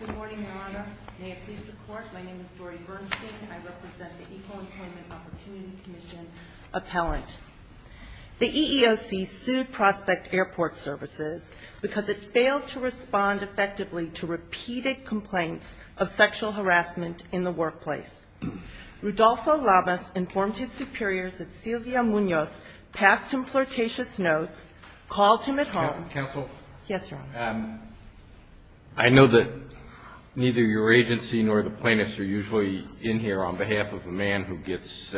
Good morning, Your Honor. May it please the Court, my name is Dori Bernstein. I represent the Equal Employment Opportunity Commission appellant. The EEOC sued Prospect Airport Services because it failed to respond effectively to repeated complaints of sexual harassment in the workplace. Rudolfo Lavez informed his superiors that Silvia Munoz passed him flirtatious notes, called him at home- Counsel? Yes, Your Honor. I know that neither your agency nor the plaintiffs are usually in here on behalf of a man who gets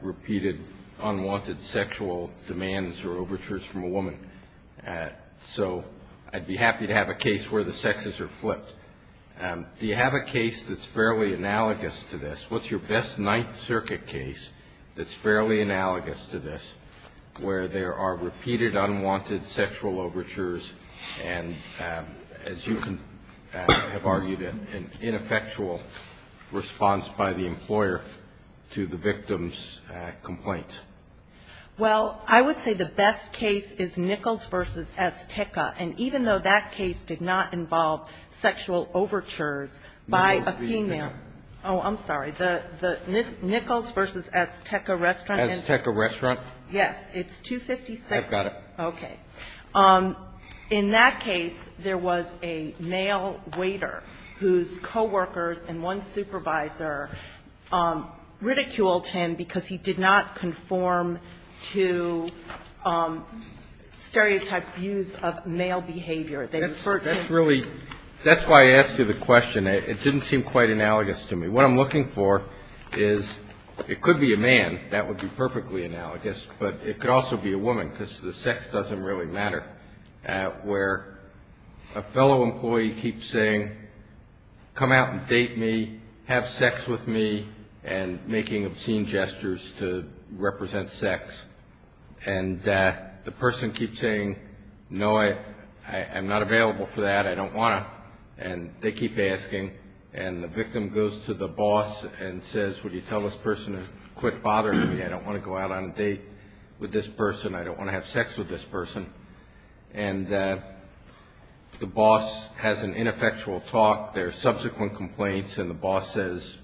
repeated unwanted sexual demands or overtures from a woman, so I'd be happy to have a case where the sexes are flipped. Do you have a case that's fairly analogous to this? What's your best Ninth Circuit case that's fairly analogous to this, where there are repeated unwanted sexual overtures and, as you have argued, an ineffectual response by the employer to the victim's complaint? Well, I would say the best case is Nichols v. Esteca, and even though that case did not involve sexual overtures by a female- Nichols v. Esteca. Oh, I'm sorry. The Nichols v. Esteca restaurant- Esteca restaurant. Yes. It's 256- I've got it. Okay. In that case, there was a male waiter whose coworkers and one supervisor ridiculed him because he did not conform to stereotyped views of male behavior. They referred to- That's really – that's why I asked you the question. It didn't seem quite analogous to me. What I'm looking for is it could be a man. That would be perfectly analogous. But it could also be a woman because the sex doesn't really matter, where a fellow employee keeps saying, come out and date me, have sex with me, and making obscene gestures to represent sex. And the person keeps saying, no, I'm not available for that, I don't want to. And they keep asking. And the victim goes to the boss and says, would you tell this person to quit bothering me? I don't want to go out on a date with this person. I don't want to have sex with this person. And the boss has an ineffectual talk. There are subsequent complaints. And the boss says,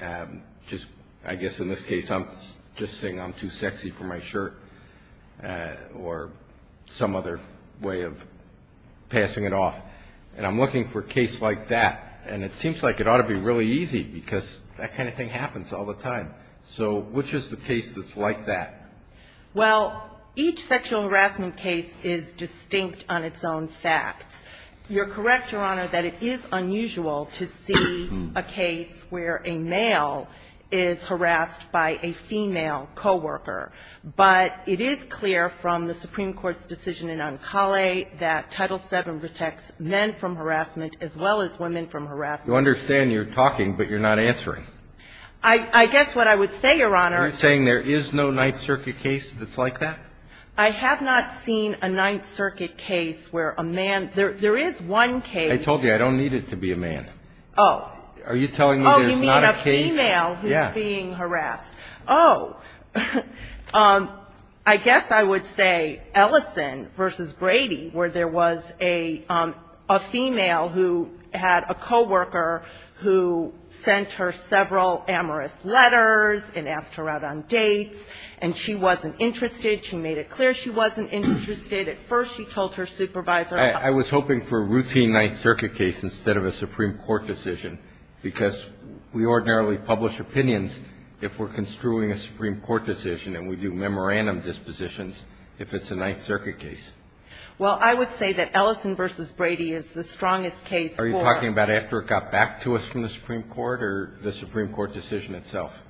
I guess in this case I'm just saying I'm too sexy for my shirt or some other way of passing it off. And I'm looking for a case like that. And it seems like it ought to be really easy because that kind of thing happens all the time. So which is the case that's like that? Well, each sexual harassment case is distinct on its own facts. You're correct, Your Honor, that it is unusual to see a case where a male is harassed by a female coworker. But it is clear from the Supreme Court's decision in Ancale that Title VII protects men from harassment as well as women from harassment. I understand you're talking, but you're not answering. I guess what I would say, Your Honor. Are you saying there is no Ninth Circuit case that's like that? I have not seen a Ninth Circuit case where a man – there is one case. I told you, I don't need it to be a man. Oh. Are you telling me there's not a case? Oh, you mean a female who's being harassed. Yeah. Oh. I guess I would say Ellison v. Brady, where there was a female who had a coworker who sent her several amorous letters and asked her out on dates, and she wasn't interested. She made it clear she wasn't interested. At first she told her supervisor about it. I was hoping for a routine Ninth Circuit case instead of a Supreme Court decision, because we ordinarily publish opinions if we're construing a Supreme Court decision and we do memorandum dispositions if it's a Ninth Circuit case. Well, I would say that Ellison v. Brady is the strongest case for – Are you talking about after it got back to us from the Supreme Court or the Supreme Court decision itself?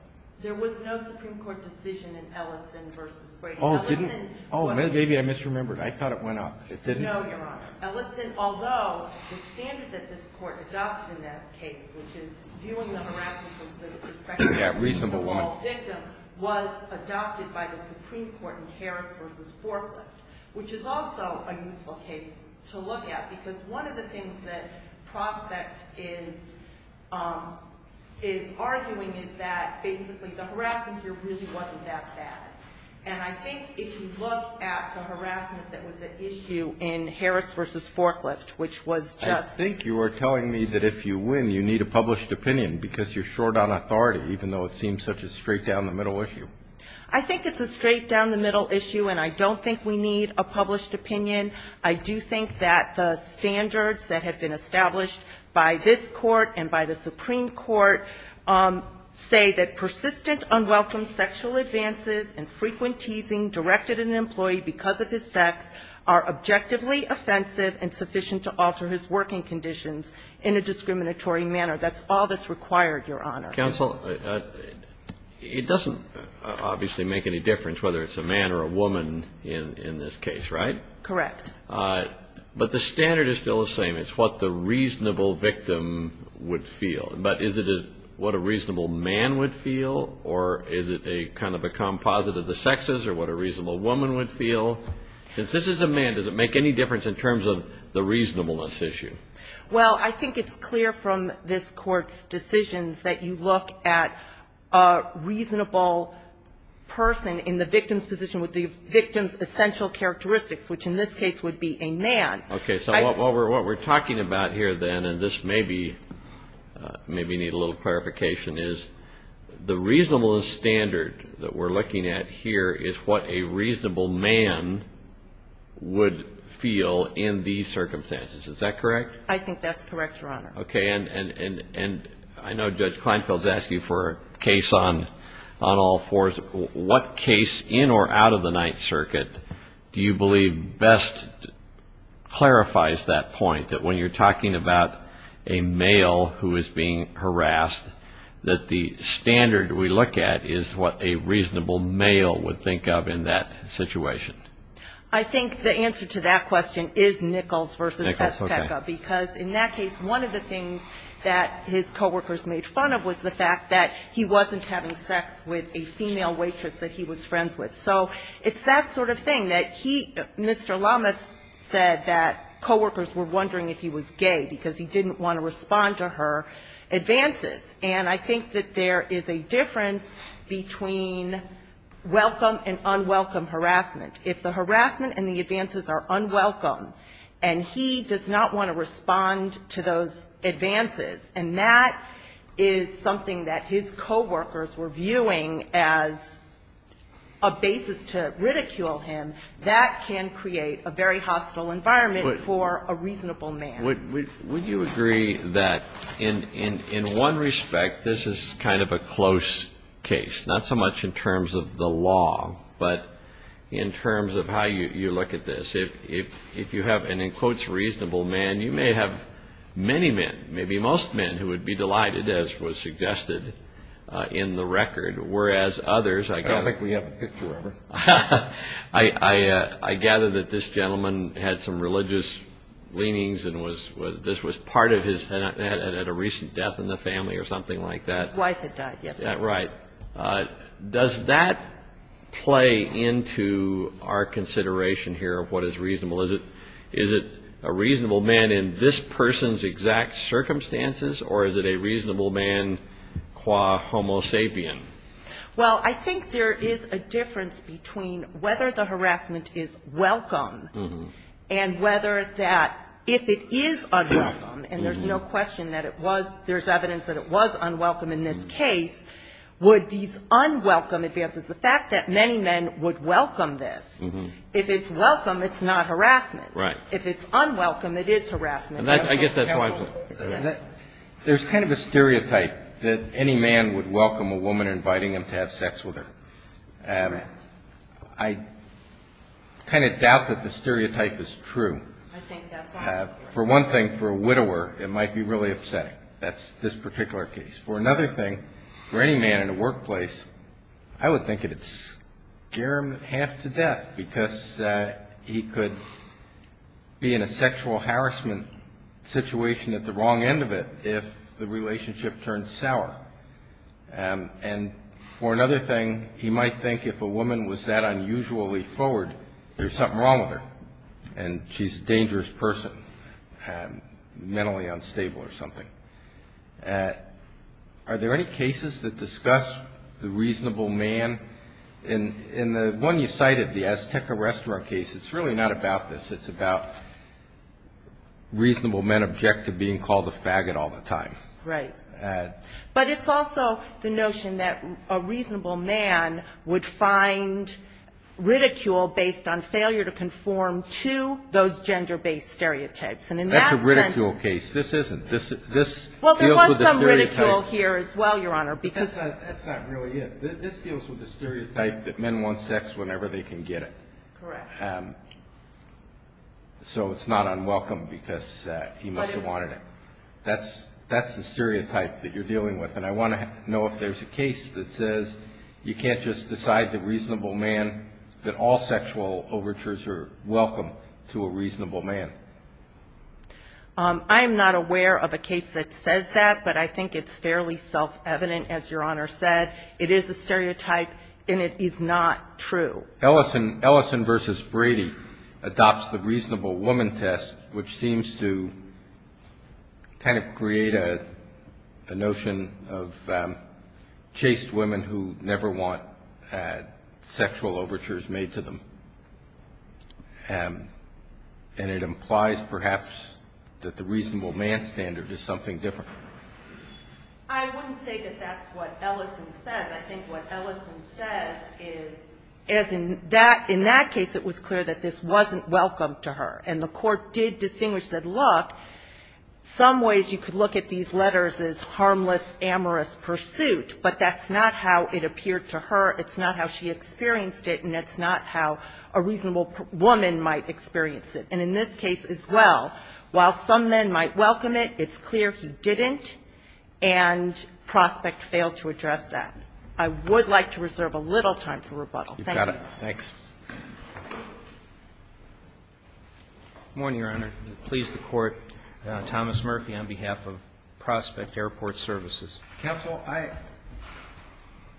There was no Supreme Court decision in Ellison v. Brady. Oh, didn't – oh, maybe I misremembered. I thought it went up. No, Your Honor. Ellison, although the standard that this Court adopted in that case, which is viewing the harassment from the perspective of the overall victim, was adopted by the Supreme Court in Harris v. Forklift, which is also a useful case to look at, because one of the things that Prospect is arguing is that basically the harassment here really wasn't that bad. And I think if you look at the harassment that was at issue in Harris v. Forklift, which was just – I think you are telling me that if you win, you need a published opinion, because you're short on authority, even though it seems such a straight-down-the-middle issue. I think it's a straight-down-the-middle issue, and I don't think we need a published opinion. I do think that the standards that have been established by this Court and by the Supreme Court say that persistent, unwelcome sexual advances and frequent teasing directed at an employee because of his sex are objectively offensive and sufficient to alter his working conditions in a discriminatory manner. That's all that's required, Your Honor. Counsel, it doesn't obviously make any difference whether it's a man or a woman in this case, right? Correct. But the standard is still the same. It's what the reasonable victim would feel. But is it what a reasonable man would feel, or is it a kind of a composite of the sexes, or what a reasonable woman would feel? Since this is a man, does it make any difference in terms of the reasonableness issue? Well, I think it's clear from this Court's decisions that you look at a reasonable person in the victim's position with the victim's essential characteristics, which in this case would be a man. Okay. So what we're talking about here then, and this maybe needs a little clarification, is the reasonableness standard that we're looking at here is what a reasonable man would feel in these circumstances. Is that correct? I think that's correct, Your Honor. Okay. And I know Judge Kleinfeld has asked you for a case on all fours. So what case in or out of the Ninth Circuit do you believe best clarifies that point, that when you're talking about a male who is being harassed, that the standard we look at is what a reasonable male would think of in that situation? I think the answer to that question is Nichols v. Pesceca, because in that case, one of the things that his coworkers made fun of was the female waitress that he was friends with. So it's that sort of thing, that he, Mr. Lamas said that coworkers were wondering if he was gay, because he didn't want to respond to her advances. And I think that there is a difference between welcome and unwelcome harassment. If the harassment and the advances are unwelcome, and he does not want to respond to those advances, and that is something that his coworkers were viewing as the basis to ridicule him, that can create a very hostile environment for a reasonable man. Would you agree that in one respect, this is kind of a close case, not so much in terms of the law, but in terms of how you look at this? If you have an, in quotes, reasonable man, you may have many men, maybe most men, who would be delighted, as was suggested in the record, whereas others, I gather, I gather that this gentleman had some religious leanings and was, this was part of his, had a recent death in the family or something like that. His wife had died, yes. Right. Does that play into our consideration here of what is reasonable? Is it a person's exact circumstances, or is it a reasonable man qua homo sapien? Well, I think there is a difference between whether the harassment is welcome and whether that, if it is unwelcome, and there's no question that it was, there's evidence that it was unwelcome in this case, would these unwelcome advances, the fact that many men would welcome this. If it's welcome, it's not harassment. Right. If it's unwelcome, it is harassment. And I get that point. There's kind of a stereotype that any man would welcome a woman inviting him to have sex with her. Right. I kind of doubt that the stereotype is true. I think that's accurate. For one thing, for a widower, it might be really upsetting. That's this particular case. For another thing, for any man in a workplace, I would think it would scare him half to death because he could be in a sexual harassment situation at the wrong end of it if the relationship turns sour. And for another thing, he might think if a woman was that unusually forward, there's something wrong with her and she's a dangerous person, mentally unstable or something. Are there any cases that discuss the reasonable man? In the one you cited, the Azteca restaurant case, it's really not about this. It's about reasonable men object to being called a faggot all the time. Right. But it's also the notion that a reasonable man would find ridicule based on failure to conform to those gender-based stereotypes. And in that sense ---- Well, there was some ridicule here as well, Your Honor, because ---- That's not really it. This deals with the stereotype that men want sex whenever they can get it. So it's not unwelcome because he must have wanted it. That's the stereotype that you're dealing with. And I want to know if there's a case that says you can't just decide the reasonable man, that all sexual overtures are welcome to a reasonable man. I'm not aware of a case that says that, but I think it's fairly self-evident, as Your Honor said. It is a stereotype and it is not true. Ellison versus Brady adopts the reasonable woman test, which seems to kind of create a notion of chaste women who never want sexual overtures made to them. And it implies that the reasonable man standard is something different. I wouldn't say that that's what Ellison says. I think what Ellison says is, as in that case, it was clear that this wasn't welcome to her. And the Court did distinguish that, look, some ways you could look at these letters as harmless, amorous pursuit, but that's not how it appeared to her, it's not how she experienced it, and it's not how a reasonable woman might experience it. And in this case as well, while some men might welcome it, it's clear he didn't, and Prospect failed to address that. I would like to reserve a little time for rebuttal. Thank you. Morning, Your Honor. Please support Thomas Murphy on behalf of Prospect Airport Services. Counsel, I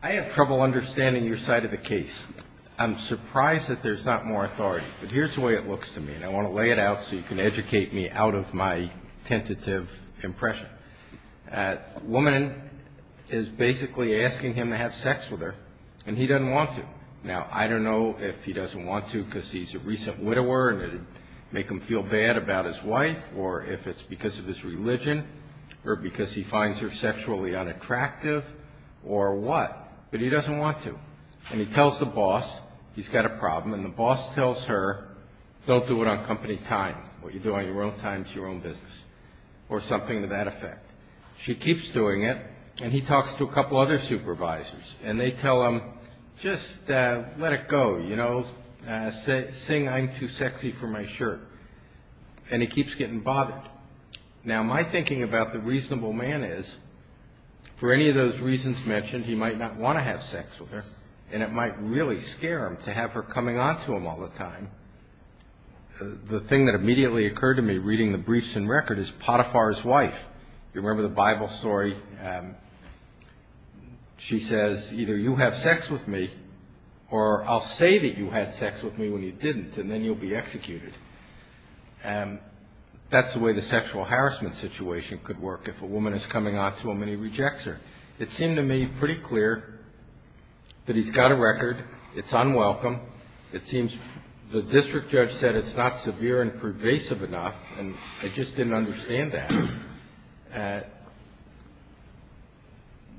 have trouble understanding your side of the case. I'm surprised that there's not more authority. But here's the way it looks to me, and I want to lay it out so you can educate me out of my tentative impression. A woman is basically asking him to have sex with her, and he doesn't want to. Now, I don't know if he doesn't want to because he's a recent widower and it would make him feel bad about his wife, or if it's because of his religion, or because he finds her sexually unattractive, or what. But he doesn't want to. And he tells the boss he's got a problem, and the boss tells her, don't do it on company time. What you do on your own time is your own business, or something to that effect. She keeps doing it, and he talks to a couple other supervisors, and they tell him, just let it go, you know. Sing I'm Too Sexy for My Shirt. And he keeps getting bothered. Now, my thinking about the reasonable man is, for any of those reasons mentioned, he might not want to have sex with her, and it might really scare him to have her coming on to him all the time. The thing that immediately occurred to me, reading the briefs and record, is Potiphar's wife. You remember the Bible story? She says, either you have sex with me, or I'll say that you had sex with me when you didn't, and then you'll be executed. That's the way the sexual harassment situation could work. If a woman is coming on to a man, he rejects her. It seemed to me pretty clear that he's got a record. It's unwelcome. It seems the district judge said it's not severe and pervasive enough, and I just didn't understand that.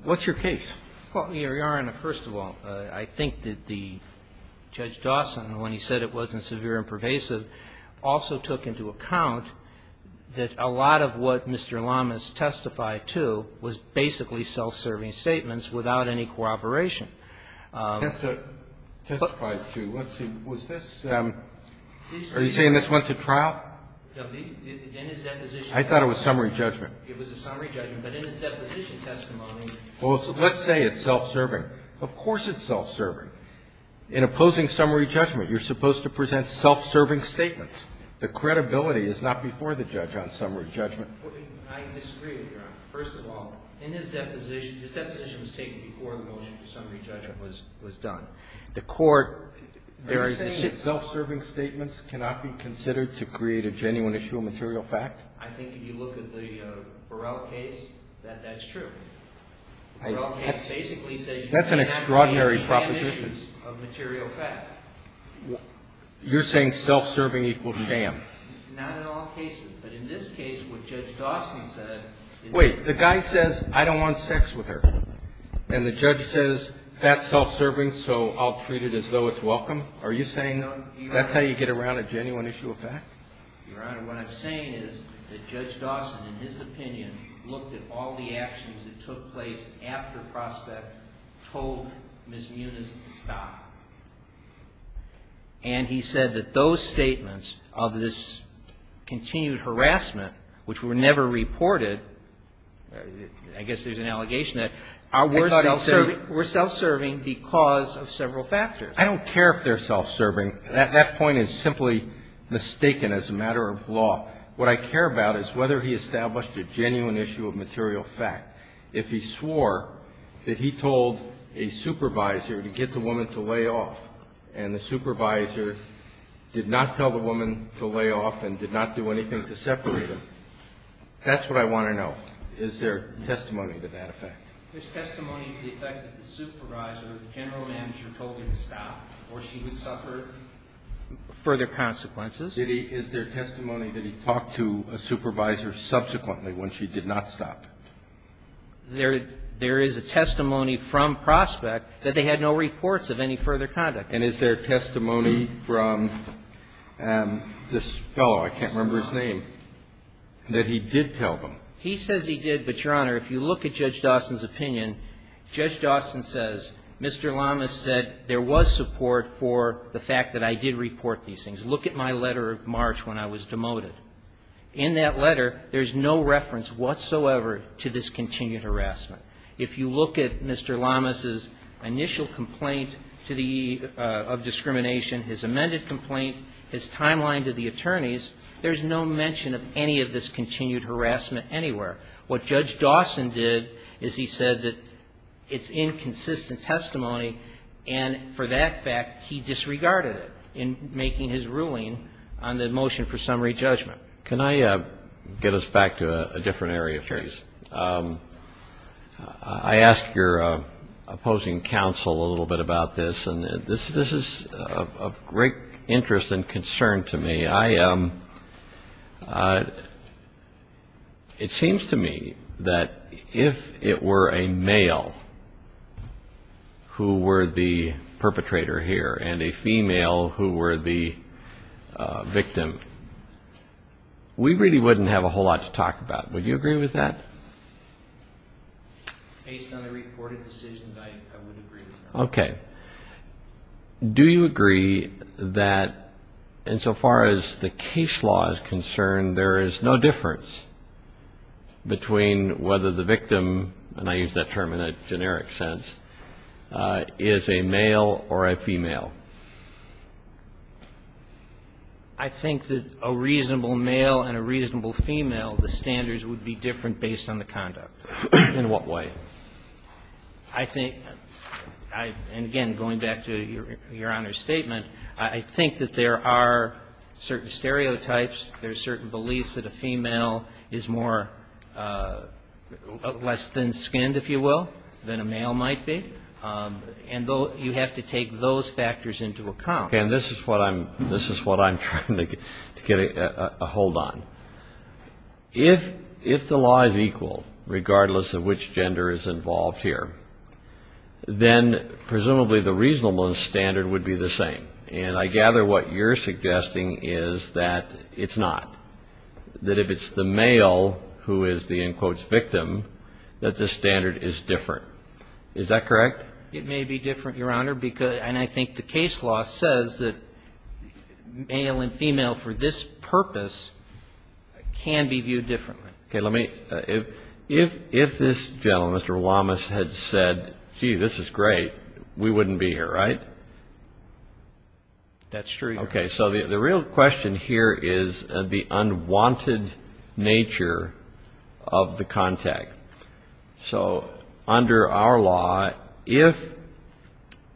What's your case? Well, Your Honor, first of all, I think that the Judge Dawson, when he said it wasn't severe and pervasive, also took into account that a lot of what Mr. Lamas testified to was basically self-serving statements without any corroboration. Are you saying this went to trial? I thought it was summary judgment. Well, let's say it's self-serving. Of course it's self-serving. The credibility is not before the judge on summary judgment. I disagree with you, Your Honor. First of all, in his deposition, his deposition was taken before the motion for summary judgment was done. Are you saying that self-serving statements cannot be considered to create a genuine issue of material fact? I think if you look at the Burrell case, that that's true. That's an extraordinary proposition. You're saying self-serving equals sham? Not in all cases, but in this case, what Judge Dawson said is... Wait, the guy says, I don't want sex with her, and the judge says, that's self-serving, so I'll treat it as though it's welcome? Are you saying that's how you get around a genuine issue of fact? Your Honor, what I'm saying is that Judge Dawson, in his opinion, looked at all the actions that took place after Prospect told Ms. Muniz to stop. And he said that those statements of this continued harassment, which were never reported, I guess there's an allegation that, are worth self-serving because of several factors. I don't care if they're self-serving. That point is simply mistaken as a matter of law. What I care about is whether he established a genuine issue of material fact. If he swore that he told a supervisor to get the woman to lay off, and the supervisor did not tell the woman to lay off and did not do anything to separate them, that's what I want to know. Is there testimony to that effect? There's testimony to the effect that the supervisor, the general manager, told her to stop or she would suffer further consequences. Is there testimony that he talked to a supervisor subsequently when she did not stop? There is a testimony from Prospect that they had no reports of any further conduct. And is there testimony from this fellow, I can't remember his name, that he did tell them? He says he did, but, Your Honor, if you look at Judge Dawson's opinion, Judge Dawson says Mr. Lamas said there was support for the fact that I did report these things. Look at my letter of March when I was demoted. In that letter, there's no reference whatsoever to this continued harassment. If you look at Mr. Lamas's initial complaint of discrimination, his amended complaint, his timeline to the attorneys, there's no mention of any of this continued harassment anywhere. What Judge Dawson did is he said that it's inconsistent testimony, and for that fact, he disregarded it in making his ruling on the motion for summary judgment. I asked your opposing counsel a little bit about this, and this is of great interest and concern to me. It seems to me that if it were a male who were the perpetrator here and a female who were the victim, we really wouldn't have a whole lot to talk about. Would you agree with that? Based on the reported decisions, I would agree with that. Okay. Do you agree that insofar as the case law is concerned, there is no difference between whether the victim, and I use that term in a generic sense, is a male or a female? I think that a reasonable male and a reasonable female, the standards would be different based on the conduct. In what way? I think, and again, going back to your Honor's statement, I think that there are certain stereotypes, there are certain beliefs that a female is less than skinned, if you will, than a male might be, and you have to take those factors into account. Okay. And this is what I'm trying to get a hold on. If the law is equal, regardless of which gender is involved here, then presumably the reasonable standard would be the same. And I gather what you're suggesting is that it's not, that if it's the male who is the, in quotes, victim, that the standard is different. Is that correct? It may be different, Your Honor, and I think the case law says that male and female for this purpose can be viewed differently. Okay. Let me, if this gentleman, Mr. Willamas, had said, gee, this is great, we wouldn't be here, right? That's true, Your Honor. Okay. So the real question here is the unwanted nature of the contact. If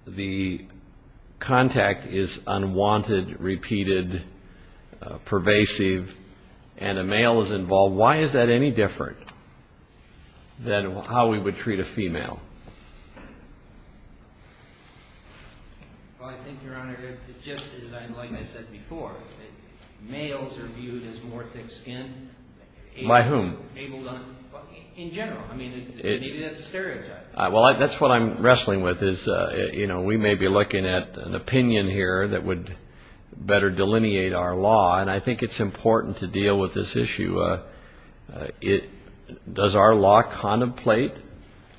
the contact is unwanted, repeated, pervasive, and a male is involved, why is that any different than how we would treat a female? Well, I think, Your Honor, just as I said before, males are viewed as more thick-skinned. By whom? In general. I mean, maybe that's a stereotype. Well, that's what I'm wrestling with, is, you know, we may be looking at an opinion here that would better delineate our law, and I think it's important to deal with this issue. Does our law contemplate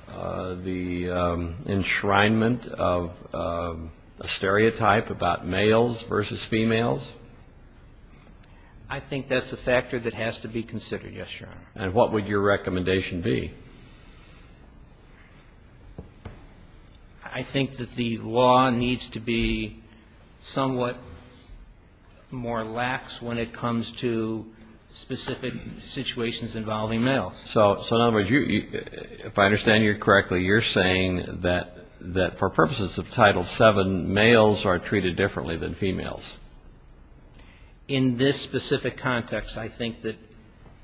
the enshrinement of a stereotype about males versus females? I think that's a factor that has to be considered, yes, Your Honor. And what would your recommendation be? I think that the law needs to be somewhat more lax when it comes to specific situations involving males. So, in other words, if I understand you correctly, you're saying that for purposes of Title VII, males are treated differently than females? In this specific context, I think that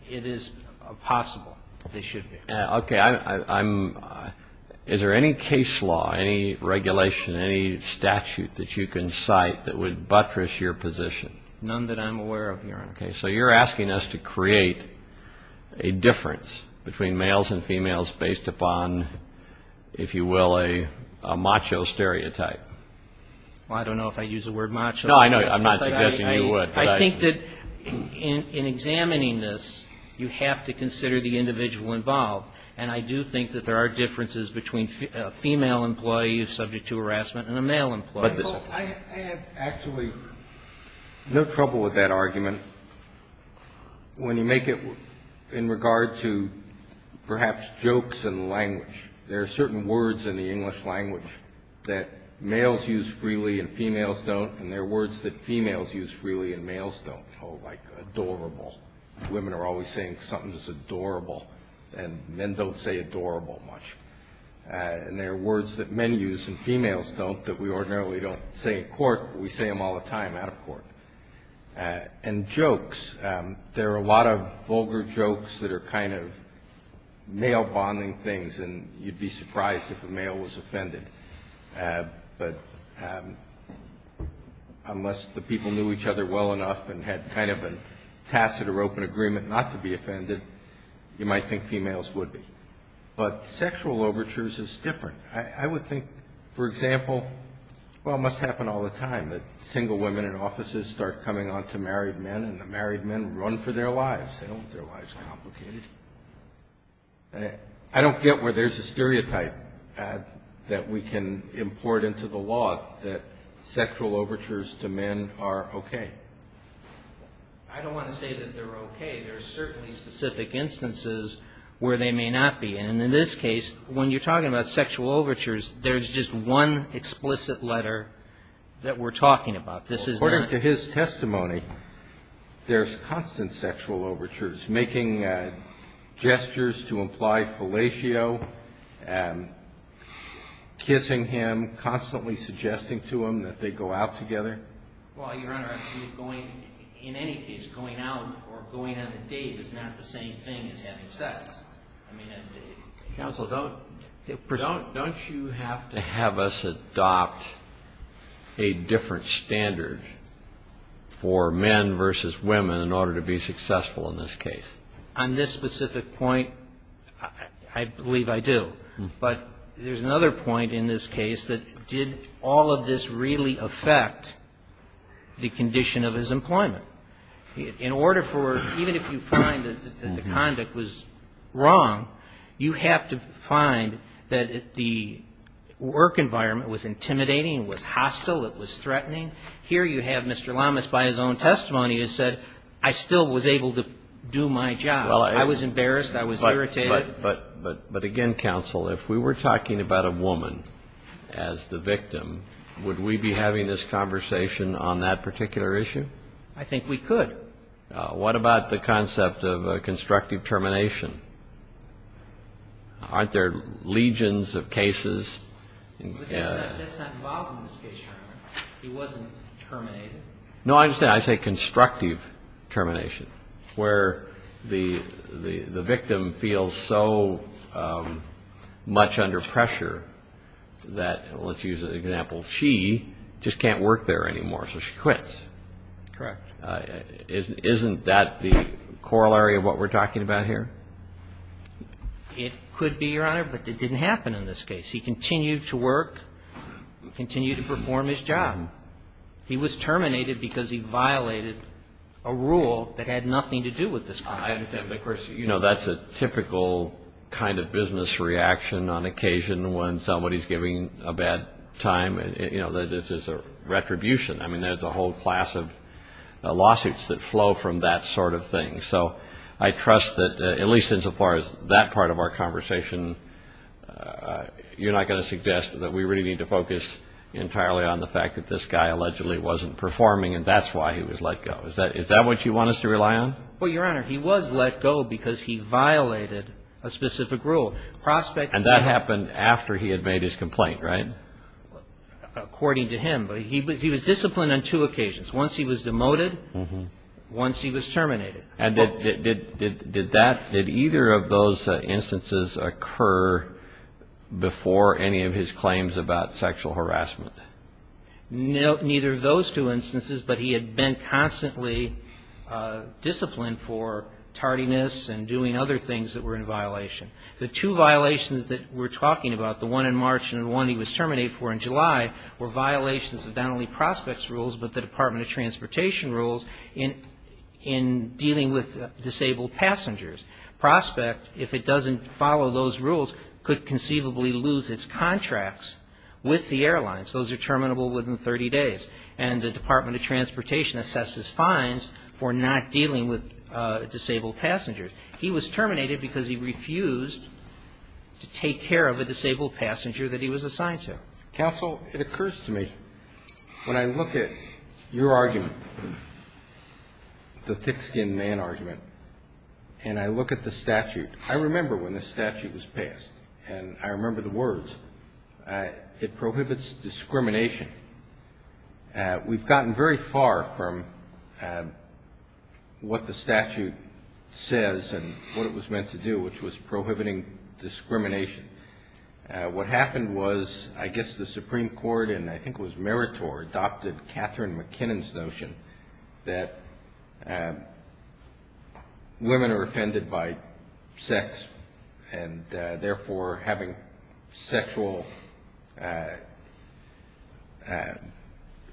it is possible that they should be. Is there any case law, any regulation, any statute that you can cite that would buttress your position? None that I'm aware of, Your Honor. So you're asking us to create a difference between males and females based upon, if you will, a macho stereotype? Well, I don't know if I use the word macho. No, I know. I'm not suggesting you would. But I think that in examining this, you have to consider the individual involved, and I do think that there are differences between a female employee who's subject to harassment and a male employee. Well, I have actually no trouble with that argument when you make it in regard to perhaps jokes and language. There are certain words in the English language that males use freely and females don't, and there are words that females use freely and males don't, like adorable. Women are always saying something's adorable, and men don't say adorable much. And there are words that men use and females don't that we ordinarily don't say in court, but we say them all the time out of court. And jokes. You'd be surprised if a male was offended, but unless the people knew each other well enough and had kind of a tacit or open agreement not to be offended, you might think females would be. But sexual overtures is different. I would think, for example, well, it must happen all the time, that single women in offices start coming on to married men, and the married men run for their lives. They don't get their lives complicated. I don't get where there's a stereotype that we can import into the law that sexual overtures to men are okay. I don't want to say that they're okay. There are certainly specific instances where they may not be, and in this case, when you're talking about sexual overtures, there's just one explicit letter that we're talking about. According to his testimony, there's constant sexual overtures, making gestures to imply fellatio, kissing him, constantly suggesting to him that they go out together. Well, Your Honor, I see that going, in any case, going out or going on a date is not the same thing as having sex. I mean, counsel, don't you have to have us adopt a different standard of sexual overtures? For men versus women in order to be successful in this case? On this specific point, I believe I do. But there's another point in this case that did all of this really affect the condition of his employment? In order for, even if you find that the conduct was wrong, you have to find that the work environment was intimidating, it was hostile, it was threatening. And here you have Mr. Lamas, by his own testimony, has said, I still was able to do my job. I was embarrassed. I was irritated. But again, counsel, if we were talking about a woman as the victim, would we be having this conversation on that particular issue? I think we could. What about the concept of constructive termination? Aren't there legions of cases? That's not involved in this case, Your Honor. He wasn't terminated. No, I understand. I say constructive termination, where the victim feels so much under pressure that, let's use an example, she just can't work there anymore, so she quits. Correct. Isn't that the corollary of what we're talking about here? It could be, Your Honor, but it didn't happen in this case. He continued to work, continued to perform his job. He was terminated because he violated a rule that had nothing to do with this crime. Of course, you know, that's a typical kind of business reaction on occasion when somebody is giving a bad time. You know, this is a retribution. I mean, there's a whole class of lawsuits that flow from that sort of thing. So I trust that, at least insofar as that part of our conversation, you're not going to suggest that we really need to focus entirely on the fact that this guy allegedly wasn't performing and that's why he was let go. Is that what you want us to rely on? Well, Your Honor, he was let go because he violated a specific rule. And that happened after he had made his complaint, right? According to him. But he was disciplined on two occasions. Once he was demoted, once he was terminated. And did that, did either of those instances occur before any of his claims about sexual harassment? Neither of those two instances, but he had been constantly disciplined for tardiness and doing other things that were in violation. The two violations that we're talking about, the one in March and the one he was terminated for in July, were violations of not only Prospect's rules, but the Department of Transportation rules in dealing with disabled passengers. Prospect, if it doesn't follow those rules, could conceivably lose its contracts with the airlines. Those are terminable within 30 days. And the Department of Transportation assesses fines for not dealing with disabled passengers. He was terminated because he refused to take care of a disabled passenger that he was assigned to. Counsel, it occurs to me, when I look at your argument, the thick-skinned man argument, and I look at the statute, I remember when the statute was passed, and I remember the words, it prohibits discrimination. We've gotten very far from what the statute says and what it was meant to do, which was prohibiting discrimination. What happened was, I guess the Supreme Court, and I think it was Meritor, adopted Catherine MacKinnon's notion that women are offended by sex and therefore having sexual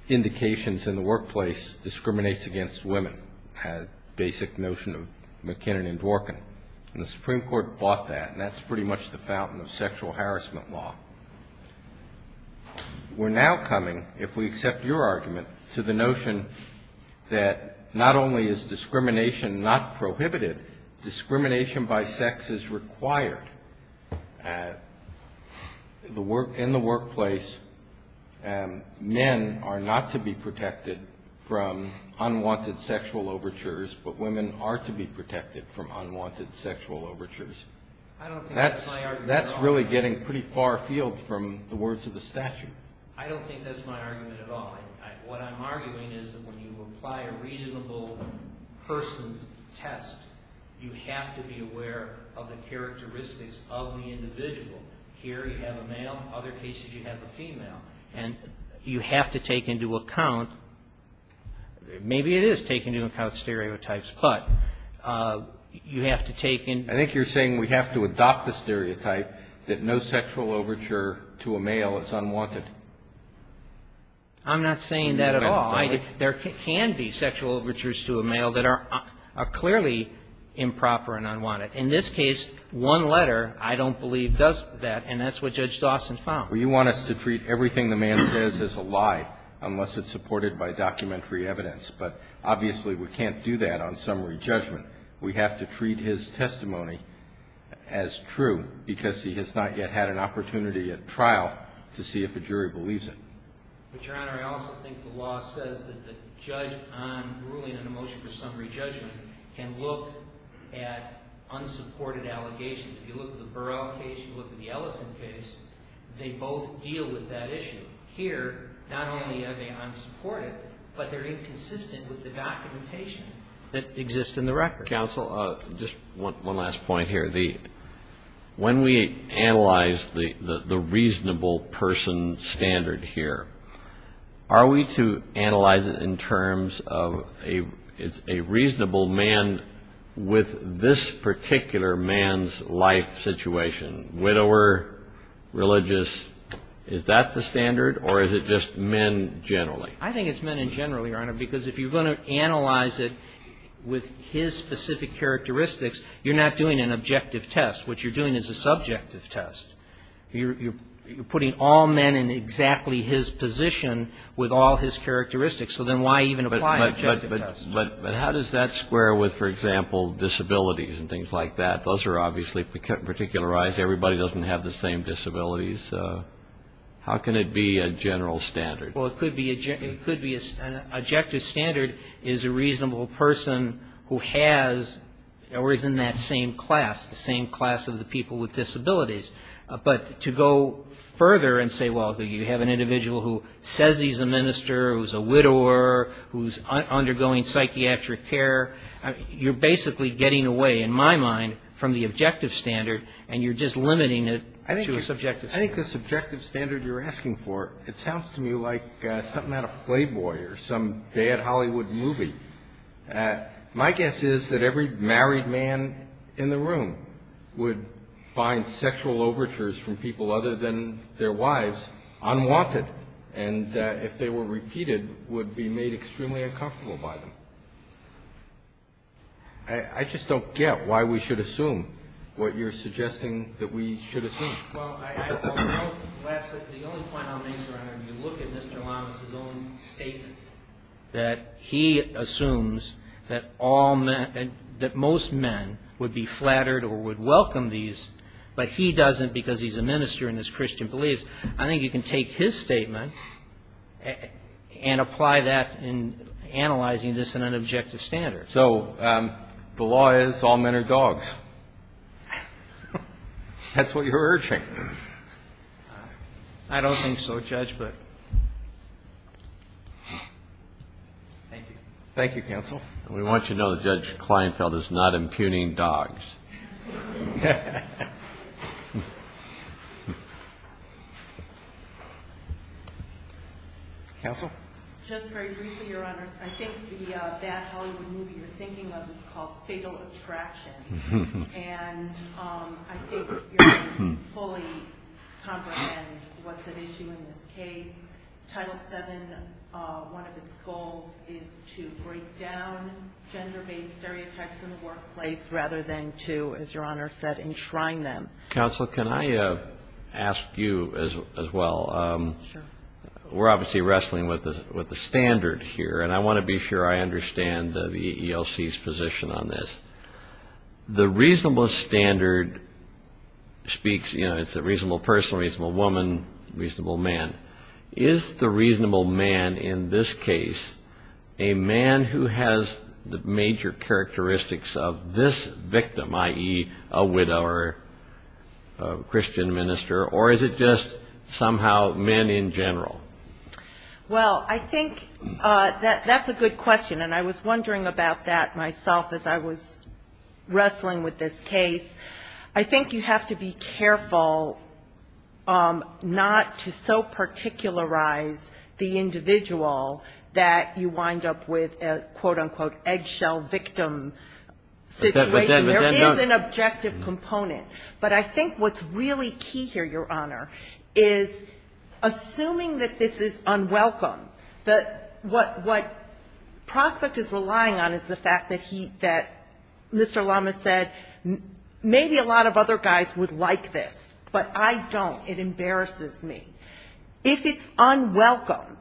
indications in the workplace discriminates against women, a basic notion of MacKinnon and Dworkin. And the Supreme Court bought that, and that's pretty much the fountain of sexual harassment law. We're now coming, if we accept your argument, to the notion that not only is discrimination not prohibited, discrimination by sex is required. In the workplace, men are not to be protected from unwanted sexual overtures, but women are to be protected from unwanted sexual overtures. I don't think that's my argument at all. That's really getting pretty far afield from the words of the statute. I don't think that's my argument at all. What I'm arguing is that when you apply a reasonable person's test, you have to be aware of the characteristics of the individual. Here, you have a male. Other cases, you have a female. And you have to take into account, maybe it is taking into account stereotypes, but you have to take into account. I think you're saying we have to adopt the stereotype that no sexual overture to a male is unwanted. I'm not saying that at all. There can be sexual overtures to a male that are clearly improper and unwanted. In this case, one letter, I don't believe, does that, and that's what Judge Dawson found. Well, you want us to treat everything the man says as a lie unless it's supported by documentary evidence. But, obviously, we can't do that on summary judgment. We have to treat his testimony as true because he has not yet had an opportunity at trial to see if a jury believes it. But, Your Honor, I also think the law says that the judge on ruling on a motion for summary judgment can look at unsupported allegations. If you look at the Burrell case, you look at the Ellison case, they both deal with that issue. Here, not only are they unsupported, but they're inconsistent with the documentation that exists in the record. Counsel, just one last point here. When we analyze the reasonable person standard here, are we to analyze it in terms of a reasonable man with this particular man's life situation, widower, religious, is that the standard or is it just men generally? I think it's men in general, Your Honor, because if you're going to analyze it with his specific characteristics, you're not doing an objective test. What you're doing is a subjective test. You're putting all men in exactly his position with all his characteristics. So then why even apply an objective test? But how does that square with, for example, disabilities and things like that? Those are obviously particularized. Everybody doesn't have the same disabilities. How can it be a general standard? Well, it could be an objective standard is a reasonable person who has or is in that same class, the same class of the people with disabilities. But to go further and say, well, you have an individual who says he's a minister, who's a widower, who's undergoing psychiatric care, you're basically getting away, in my mind, from the objective standard and you're just limiting it to a subjective standard. I think the subjective standard you're asking for, it sounds to me like something out of Playboy or some bad Hollywood movie. My guess is that every married man in the room would find sexual overtures from people other than their wives unwanted. And if they were repeated, would be made extremely uncomfortable by them. I just don't get why we should assume what you're suggesting that we should assume. Well, I don't. Lastly, the only point I'll make, Your Honor, when you look at Mr. Lamas' own statement, that he assumes that all men, that most men would be flattered or would welcome these, but he doesn't because he's a minister and his Christian beliefs. I think you can take his statement and apply that in analyzing this in an objective standard. So the law is all men are dogs. That's what you're urging. I don't think so, Judge, but thank you. Thank you, counsel. We want you to know that Judge Kleinfeld is not impugning dogs. Counsel? Just very briefly, Your Honor, I think the bad Hollywood movie you're thinking of is called Fatal Attraction. And I think you're going to fully comprehend what's at issue in this case. Title VII, one of its goals is to break down gender based stereotypes in the workplace rather than to, as Your Honor said, enshrine them. Counsel, can I ask you as well? Sure. We're obviously wrestling with the standard here, and I want to be sure I understand the ELC's position on this. The reasonable standard speaks, you know, it's a reasonable person, reasonable woman, reasonable man. Is the reasonable man in this case a man who has the major characteristics of this victim, i.e., a widow or a Christian minister, or is it just somehow men in general? Well, I think that's a good question, and I was wondering about that myself as I was wrestling with this case. I think you have to be careful not to so particularize the individual that you wind up with a, quote, unquote, eggshell victim situation. There is an objective component. But I think what's really key here, Your Honor, is assuming that this is unwelcome, that what Prospect is relying on is the fact that he, that Mr. Lama said, maybe a lot of other guys would like this, but I don't, it embarrasses me. If it's unwelcome,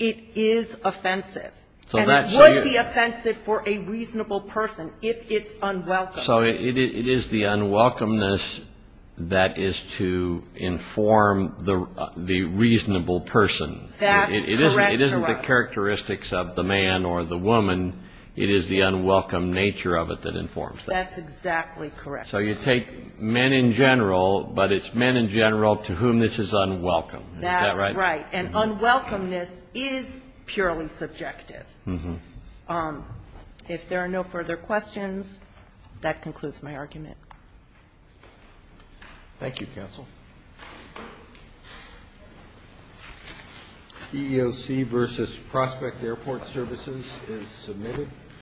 it is offensive, and it would be offensive for a reasonable person if it's unwelcome. So it is the unwelcomeness that is to inform the reasonable person. That's correct, Your Honor. If it's not the characteristics of the man or the woman, it is the unwelcome nature of it that informs that. That's exactly correct. So you take men in general, but it's men in general to whom this is unwelcome. That's right. And unwelcomeness is purely subjective. If there are no further questions, that concludes my argument. Thank you, counsel. Thank you, counsel.